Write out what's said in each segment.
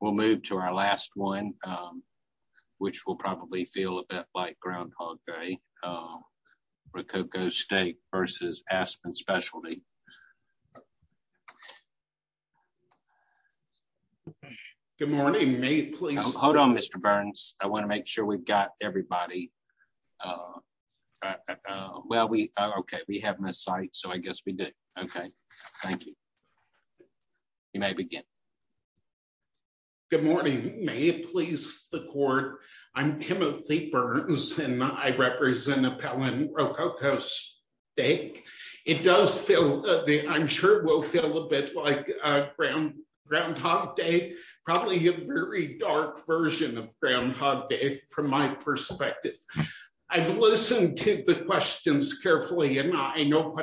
We'll move to our last one, which will probably feel a bit like Groundhog Day, Rococo Steak v. Aspen Specialty. Good morning, may it please? Hold on, Mr. Burns. I want to make sure we've got everybody. Well, okay, we have Ms. Sykes, so I guess we do. Okay, thank you. You may begin. Good morning, may it please the court? I'm Timothy Burns, and I represent Appellant Rococo Steak. It does feel, I'm sure will feel a bit like Groundhog Day, probably a very dark version of Groundhog Day from my perspective. I've listened to the questions carefully, and I know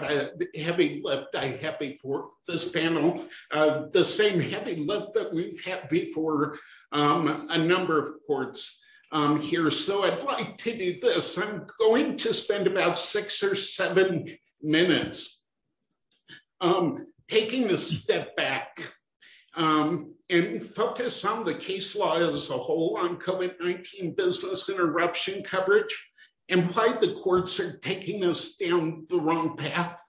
heavy lift I have before this panel, the same heavy lift that we've had before a number of courts here. So I'd like to do this. I'm going to spend about six or seven minutes taking a step back and focus on the case law as a whole on COVID-19 business interruption coverage and why the courts are taking us down the wrong path.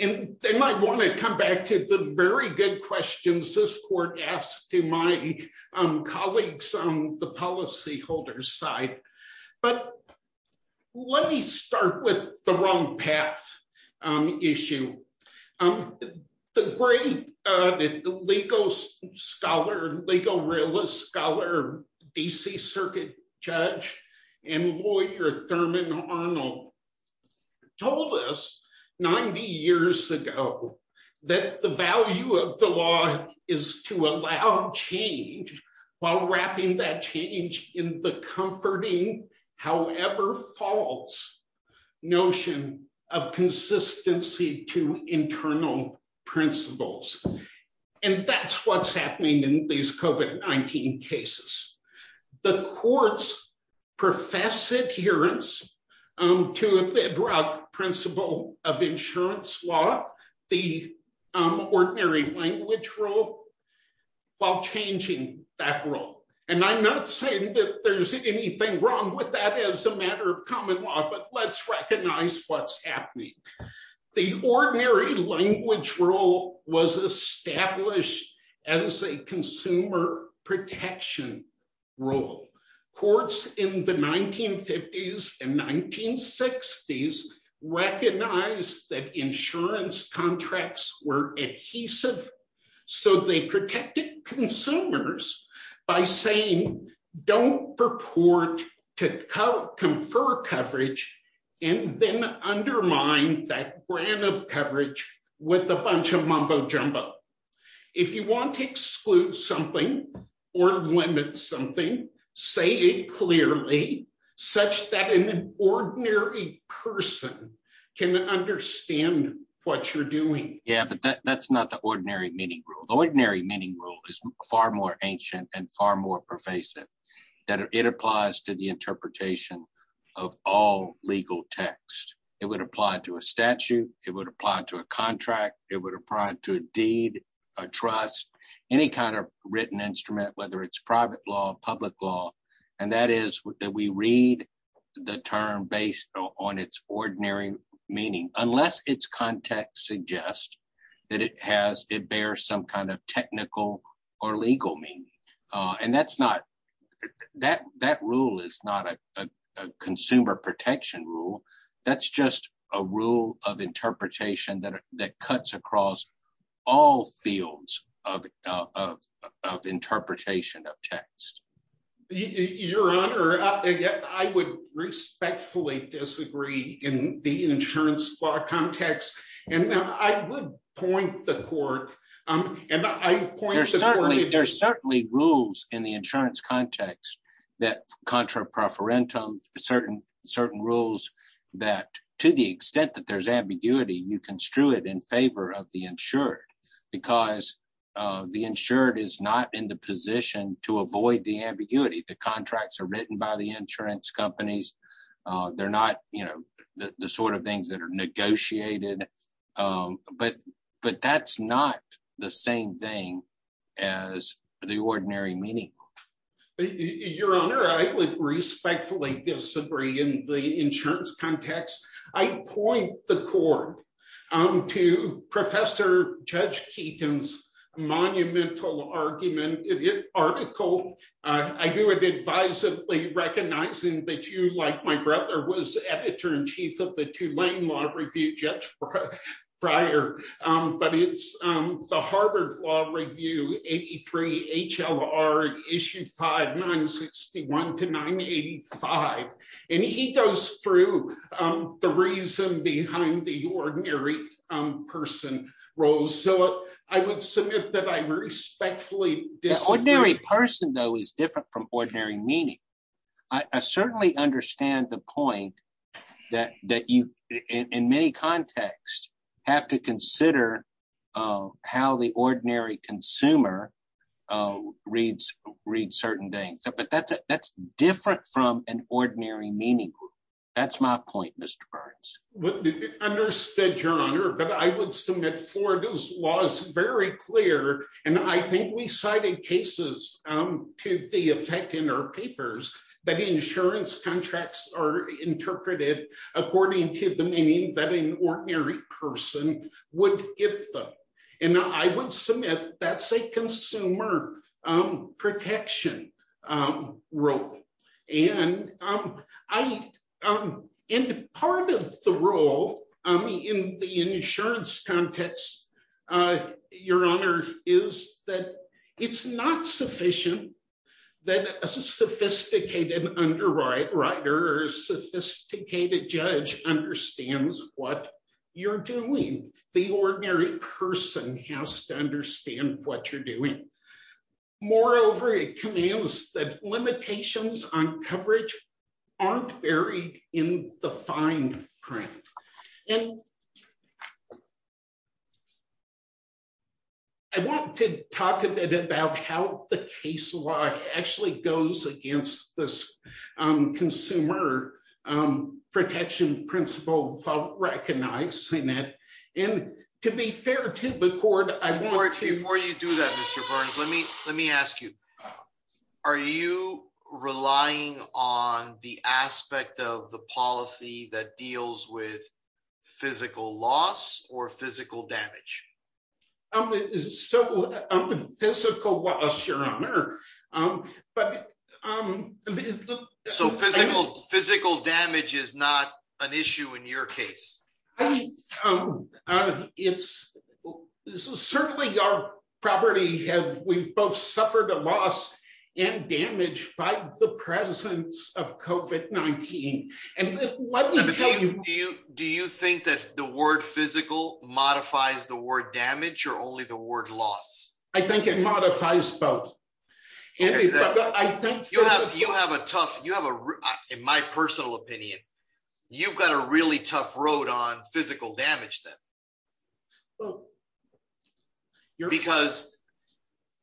And then I want to come back to the very good questions this court asked to my colleagues on the policyholders side. But let me start with the wrong path issue. The great legal scholar, legal realist scholar, DC Circuit Judge and lawyer Thurman Arnold told us 90 years ago that the value of the law is to allow change while wrapping that change in the comforting, however false, notion of consistency to internal principles. And that's what's happening in these COVID-19 cases. The courts profess adherence to a broad principle of insurance law, the ordinary language rule, while changing that rule. And I'm not saying that there's anything wrong with that as a matter of common law, but let's recognize what's happening. The ordinary language rule was established as a consumer protection rule. Courts in the 1950s and 1960s recognized that insurance contracts were adhesive. So they protected consumers by saying, don't purport to confer coverage and then undermine that brand of coverage with a bunch of mumbo jumbo. If you want to exclude something or limit something, say it clearly such that an ordinary person can understand what you're doing. Yeah, but that's not the ordinary meaning rule. Ordinary meaning rule is far more ancient and far more pervasive that it applies to the interpretation of all legal text. It would apply to a statute. It would apply to a contract. It would apply to a deed, a trust, any kind of written instrument, whether it's private law, public law. And that is that we read the term based on its ordinary meaning, unless its context suggests that it bears some kind of technical or legal meaning. And that rule is not a consumer protection rule. That's just a rule of interpretation that cuts across all fields of interpretation of text. Your Honor, I would respectfully disagree in the insurance law context. And I would point the court. There are certainly rules in the insurance context that contra preferentum, certain rules that to the extent that there's ambiguity, you construe it in favor of the insured because the insured is not in the position to avoid the ambiguity. The contracts are written by the insurance companies. They're not the sort of things that are negotiated. But that's not the same thing as the ordinary meaning. Your Honor, I would respectfully disagree in the insurance context. I point the court to Professor Judge Keaton's monumental argument in his article. I do it advisedly recognizing that like my brother was editor in chief of the Tulane Law Review, Judge Breyer. But it's the Harvard Law Review, 83 HLR, Issue 5, 961 to 985. And he goes through the reason behind the ordinary person rules. So I would submit that I respectfully disagree. Ordinary person, though, is different from ordinary meaning. I certainly understand the point that you, in many contexts, have to consider how the ordinary consumer reads certain things. But that's different from an ordinary meaning. That's my point, Mr. Burns. Understood, Your Honor. But I would submit Florida's law is very clear. And I think we cited cases to the effect in our papers that insurance contracts are interpreted according to the meaning that an ordinary person would give them. And I would submit that's a consumer protection role. And part of the role in the insurance context, Your Honor, is that it's not sufficient that a sophisticated underwriter or a sophisticated judge understands what you're doing. The ordinary person has to understand what you're doing. Moreover, it comes that limitations on coverage aren't buried in the fine print. And I want to talk a bit about how the case law actually goes against this consumer protection principle of recognizing that. And to be fair to the court, I want to... Before you do that, Mr. Burns, let me ask you, are you relying on the aspect of the policy that deals with physical loss or physical damage? Physical loss, Your Honor. So physical damage is not an issue in your case? It's certainly our property. We've both suffered a loss and damage by the presence of COVID-19. Do you think that the word physical modifies the word damage or only the word loss? I think it modifies both. You have a tough, in my personal opinion, you've got a really tough road on physical damage then. Because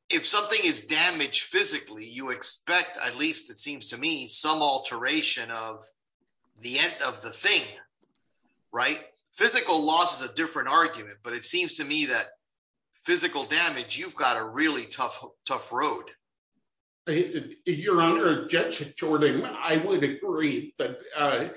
if something is damaged physically, you expect, at least it seems to me, some alteration of the end of the thing, right? Physical loss is a different argument, but it seems to me that you've got a really tough road. Your Honor, Judge Jordan, I would agree that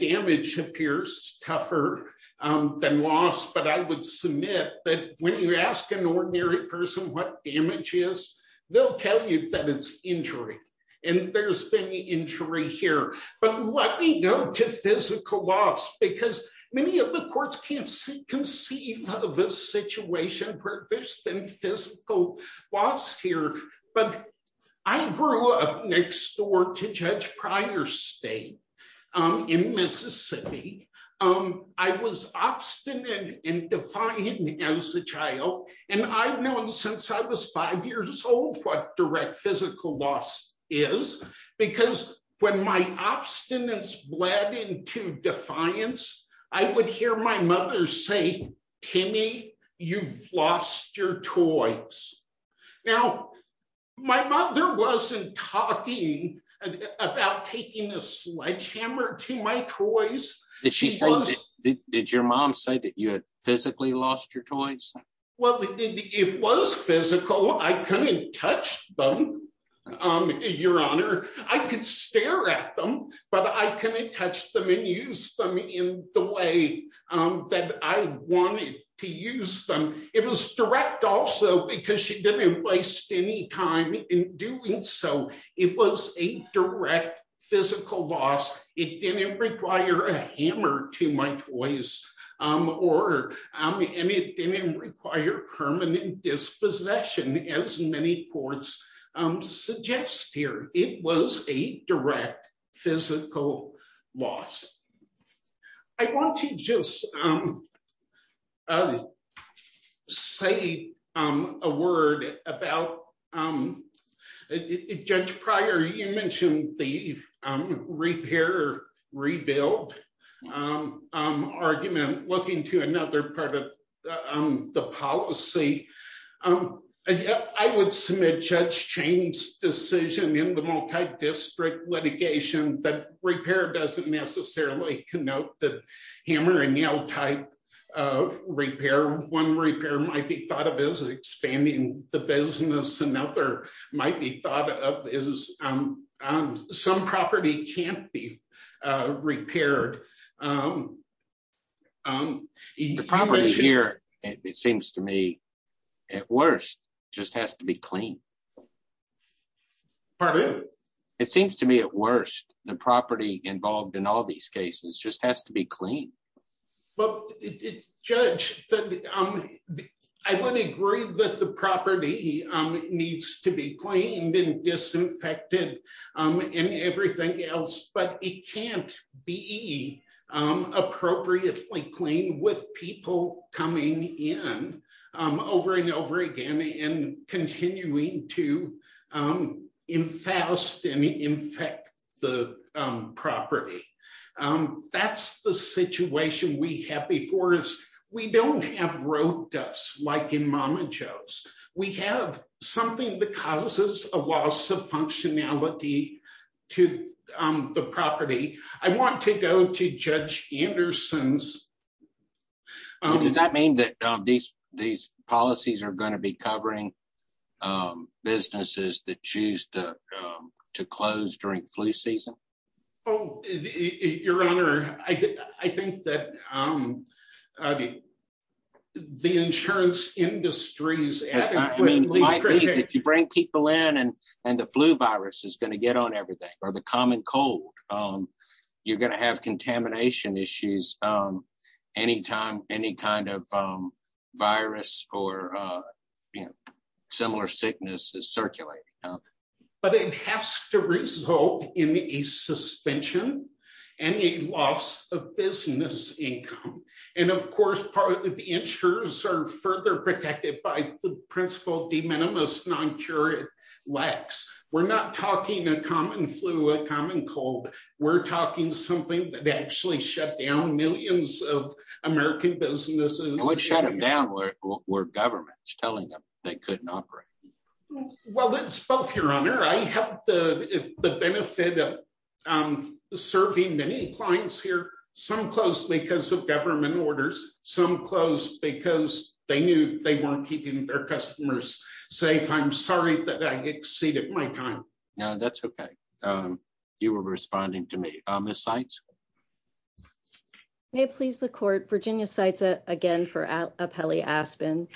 damage appears tougher than loss, but I would submit that when you ask an ordinary person what damage is, they'll tell you that it's injury. And there's been injury here. But let me go to physical loss here. But I grew up next door to Judge Pryor's estate in Mississippi. I was obstinate and defiant as a child. And I've known since I was five years old what direct physical loss is. Because when my obstinance bled into defiance, I would hear my mother say, Timmy, you've lost your toys. Now, my mother wasn't talking about taking a sledgehammer to my toys. Did your mom say that you had physically lost your toys? Well, it was physical. I couldn't touch them, Your Honor. I could stare at them, but I couldn't touch them and use them in the way that I wanted to use them. It was direct also because she didn't waste any time in doing so. It was a direct physical loss. It didn't require a hammer to my toys. And it didn't require permanent dispossession, as many courts suggest here. It was a direct physical loss. I want to just say a word about Judge Pryor. You mentioned the repair, rebuild argument. Looking to another part of the policy, I would submit Judge Chain's decision in the note that hammer and nail type repair, one repair might be thought of as expanding the business. Another might be thought of as some property can't be repaired. The property here, it seems to me, at worst, just has to be clean. Pardon? It seems to me, at worst, the property involved in all these cases just has to be clean. But Judge, I would agree that the property needs to be cleaned and disinfected and everything else, but it can't be appropriately clean with people coming in over and over again and continuing to infest and infect the property. That's the situation we have before us. We don't have road dust like in Mama Jo's. We have something that causes a loss of functionality to the property. I want to go to Judge Anderson's. Does that mean that these policies are going to be covering businesses that choose to close during flu season? Your Honor, I think that the insurance industries... If you bring people in and the flu virus is going to get on everything or the common cold, you're going to have contamination issues any time any kind of virus or similar sickness is circulating. But it has to result in a suspension and a loss of business income. And of course, part of the insurers are further protected by the principle de minimis non cura lex. We're not talking a common flu, a common cold. We're talking something that actually shut down millions of American businesses. And what shut them down were governments telling them they couldn't operate? Well, it's both, Your Honor. I have the benefit of serving many clients here, some closed because of government orders, some closed because they knew they weren't keeping their customers safe. I'm sorry that I exceeded my time. No, that's okay. You were responding to me. Ms. Seitz? May it please the court, Virginia Seitz again for Apelli Aspen.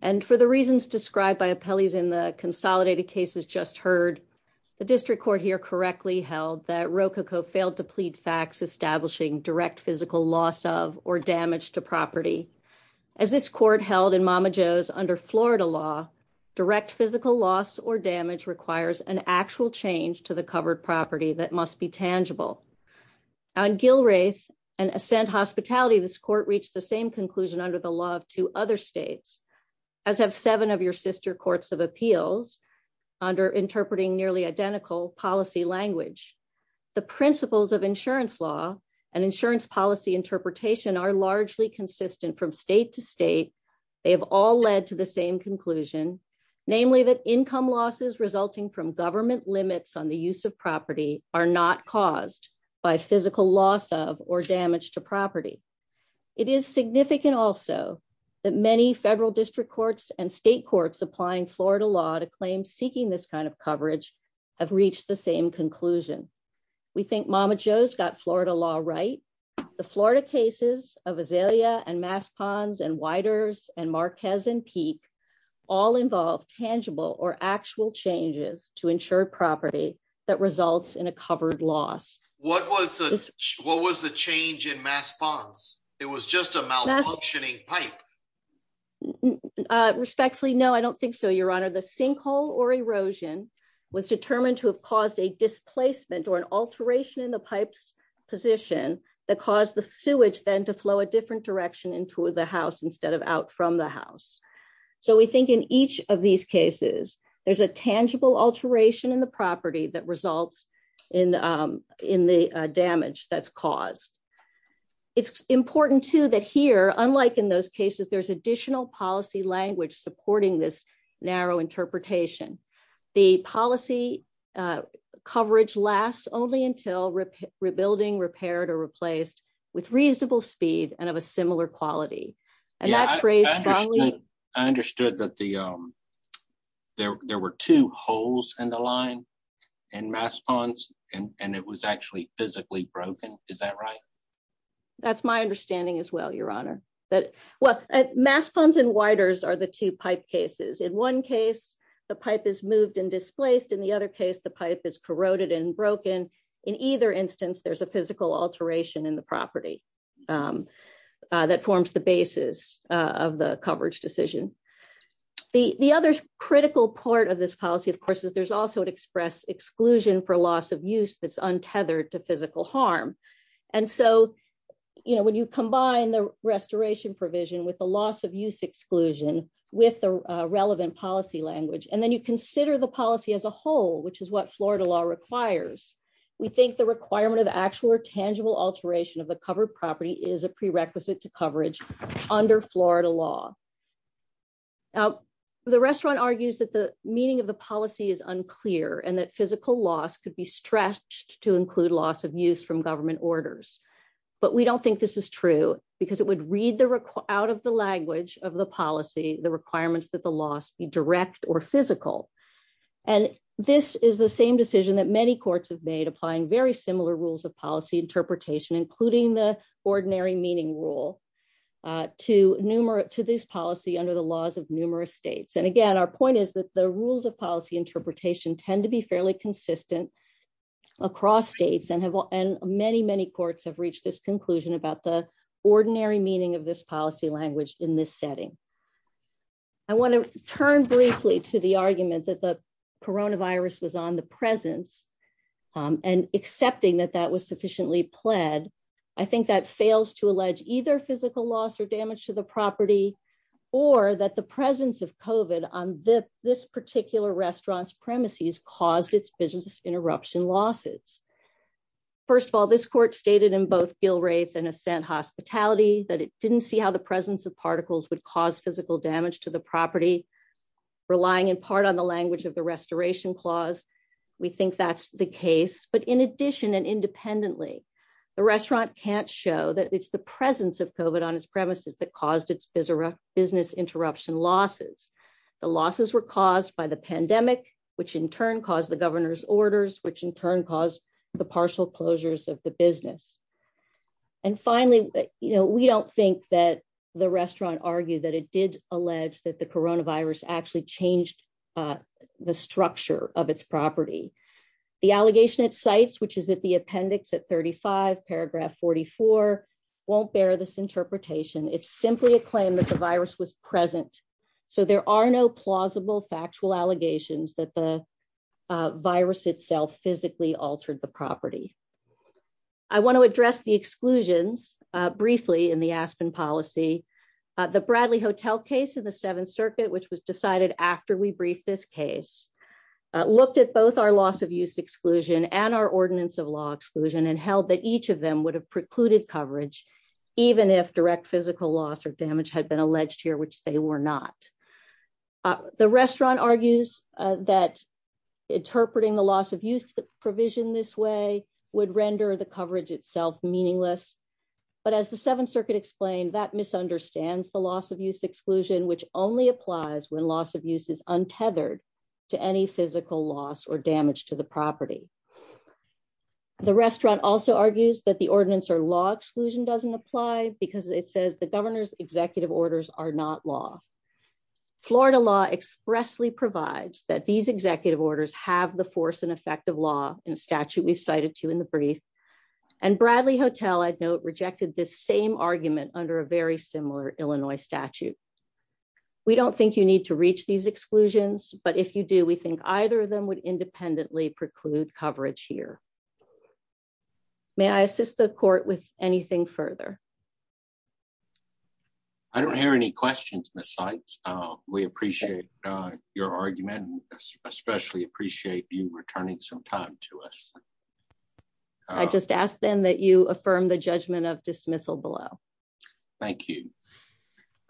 And for the reasons described by Apelli's in the consolidated cases just heard, the district court here correctly held that Rococo failed to plead facts establishing direct physical loss of or damage to property. As this court held in Mama Jo's under Florida law, direct physical loss or damage requires an actual change to the covered property that must be tangible. On Gilraeth and Ascent Hospitality, this court reached the same conclusion under the law of two other states, as have seven of your sister courts of appeals under interpreting nearly identical policy language. The principles of state to state, they have all led to the same conclusion, namely that income losses resulting from government limits on the use of property are not caused by physical loss of or damage to property. It is significant also that many federal district courts and state courts applying Florida law to claim seeking this kind of coverage have reached the same conclusion. We think Mama Jo's got Florida law right. The Florida cases of Azalea and Mass Ponds and Widers and Marquez and Peak all involve tangible or actual changes to ensure property that results in a covered loss. What was the change in Mass Ponds? It was just a malfunctioning pipe. Respectfully, no, I don't think so, your honor. The sinkhole or erosion was determined to have a displacement or an alteration in the pipe's position that caused the sewage then to flow a different direction into the house instead of out from the house. So we think in each of these cases there's a tangible alteration in the property that results in the damage that's caused. It's important too that here, unlike in those cases, there's additional policy language supporting this narrow interpretation. The policy coverage lasts only until rebuilding, repaired, or replaced with reasonable speed and of a similar quality. I understood that there were two holes in the line in Mass Ponds and it was actually physically broken, is that right? That's my understanding as well, your honor. Mass Ponds and Widers are the two pipe cases. In one case the pipe is moved and displaced, in the other case the pipe is corroded and broken. In either instance there's a physical alteration in the property that forms the basis of the coverage decision. The other critical part of this policy, of course, is there's also an express exclusion for loss of use that's combined. The restoration provision with the loss of use exclusion with the relevant policy language and then you consider the policy as a whole, which is what Florida law requires. We think the requirement of actual or tangible alteration of the covered property is a prerequisite to coverage under Florida law. Now the restaurant argues that the meaning of the policy is unclear and that physical loss could be stretched to include loss of use from government orders, but we don't think this is true because it would read out of the language of the policy the requirements that the loss be direct or physical. This is the same decision that many courts have made applying very similar rules of policy interpretation, including the ordinary meaning rule, to this policy under the laws of numerous states. Again, our point is that the rules of policy interpretation tend to be fairly consistent across states and many, many states, but we don't think that there's a clear and consistent conclusion about the ordinary meaning of this policy language in this setting. I want to turn briefly to the argument that the coronavirus was on the presence and accepting that that was sufficiently pled. I think that fails to allege either physical loss or damage to the property or that the presence of COVID on this particular restaurant's premises caused its interruption losses. First of all, this court stated in both Gilraeth and Assent Hospitality that it didn't see how the presence of particles would cause physical damage to the property, relying in part on the language of the restoration clause. We think that's the case, but in addition and independently, the restaurant can't show that it's the presence of COVID on its premises that caused its business interruption losses. The losses were caused by the pandemic, which in turn caused the governor's orders, which in turn caused the partial closures of the business. And finally, we don't think that the restaurant argued that it did allege that the coronavirus actually changed the structure of its property. The allegation it cites, which is at the appendix at 35 paragraph 44, won't bear this interpretation. It's simply a claim that the virus was present. So there are no plausible factual allegations that the virus itself physically altered the property. I want to address the exclusions briefly in the Aspen policy. The Bradley Hotel case in the Seventh Circuit, which was decided after we briefed this case, looked at both our loss of use exclusion and our ordinance of law exclusion and held that would have precluded coverage, even if direct physical loss or damage had been alleged here, which they were not. The restaurant argues that interpreting the loss of use provision this way would render the coverage itself meaningless. But as the Seventh Circuit explained, that misunderstands the loss of use exclusion, which only applies when loss of use is untethered to any physical loss or damage to the property. The restaurant also argues that the ordinance or law exclusion doesn't apply because it says the governor's executive orders are not law. Florida law expressly provides that these executive orders have the force and effect of law in statute we've cited to in the brief. And Bradley Hotel, I'd note, rejected this same argument under a very similar Illinois statute. We don't think you need to reach these exclusions, but if you do, we think either of them would independently preclude coverage here. May I assist the court with anything further? I don't hear any questions, Ms. Sykes. We appreciate your argument, especially appreciate you returning some time to us. I just ask then that you affirm the judgment of dismissal below. Thank you.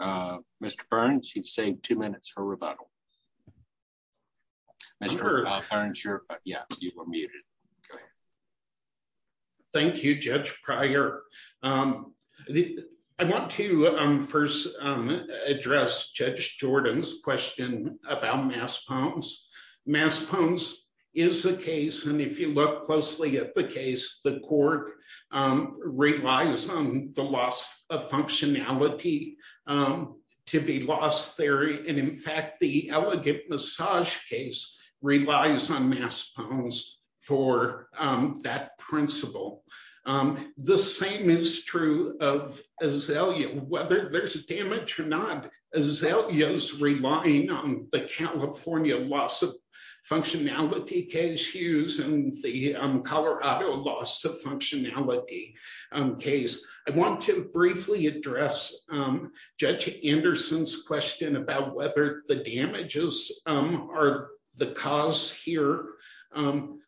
Mr. Burns, you've saved two minutes for rebuttal. Mr. Burns, you were muted. Thank you, Judge Pryor. I want to first address Judge Jordan's question about mass puns. Mass puns is the case, and if you look closely at the case, the court relies on the loss of functionality, and in fact, the elegant massage case relies on mass puns for that principle. The same is true of Azalea. Whether there's damage or not, Azalea's relying on the California loss of functionality case, Hughes, and the Colorado loss of functionality case. I want to briefly address Judge Anderson's question about whether the damages are the cause here.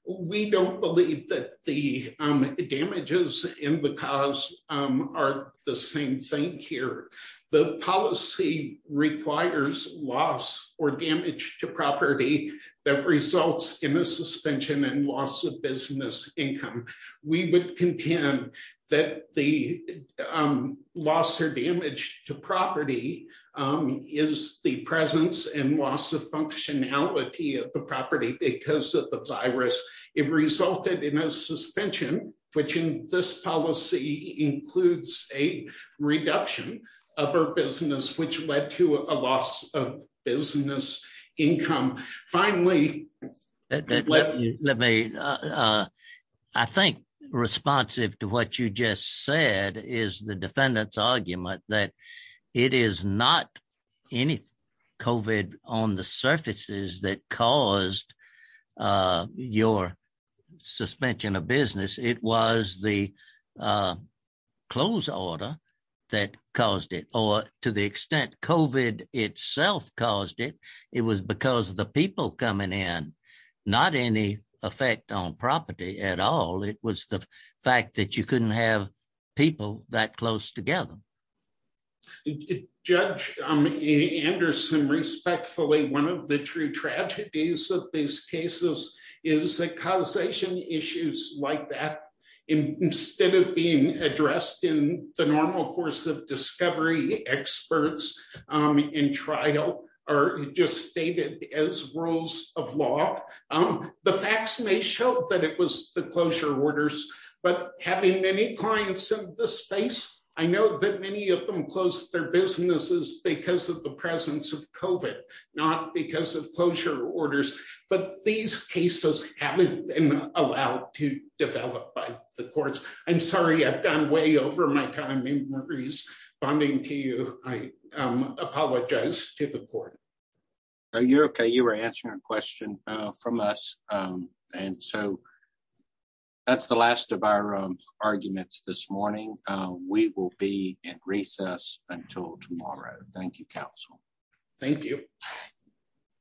We don't believe that the damages in the cause are the same thing here. The policy requires loss or damage to property that results in a suspension and loss of business income. We would contend that the loss or damage to property is the presence and loss of functionality of the property because of the virus. It resulted in a suspension, which in this policy includes a reduction of her business, which led to a loss of business income. Finally- Let me- I think responsive to what you just said is the defendant's argument that it is not any COVID on the surfaces that caused your suspension of business. It was the close order that caused it, or to the extent COVID itself caused it. It was because of the people coming in, not any effect on property at all. It was the fact that you couldn't have people that close together. Judge Anderson, respectfully, one of the true tragedies of these cases is that causation issues like that, instead of being addressed in the normal course of discovery, experts in trial are just stated as rules of law. The facts may show that it was the closure orders, but having many clients in this space, I know that many of them closed their businesses because of the presence of COVID, not because of closure orders, but these cases haven't been allowed to develop by the courts. I'm sorry, I've gone way over my time in Maurice bonding to you. Apologize to the court. You're okay. You were answering a question from us. That's the last of our arguments this morning. We will be in recess until tomorrow. Thank you, counsel. Thank you.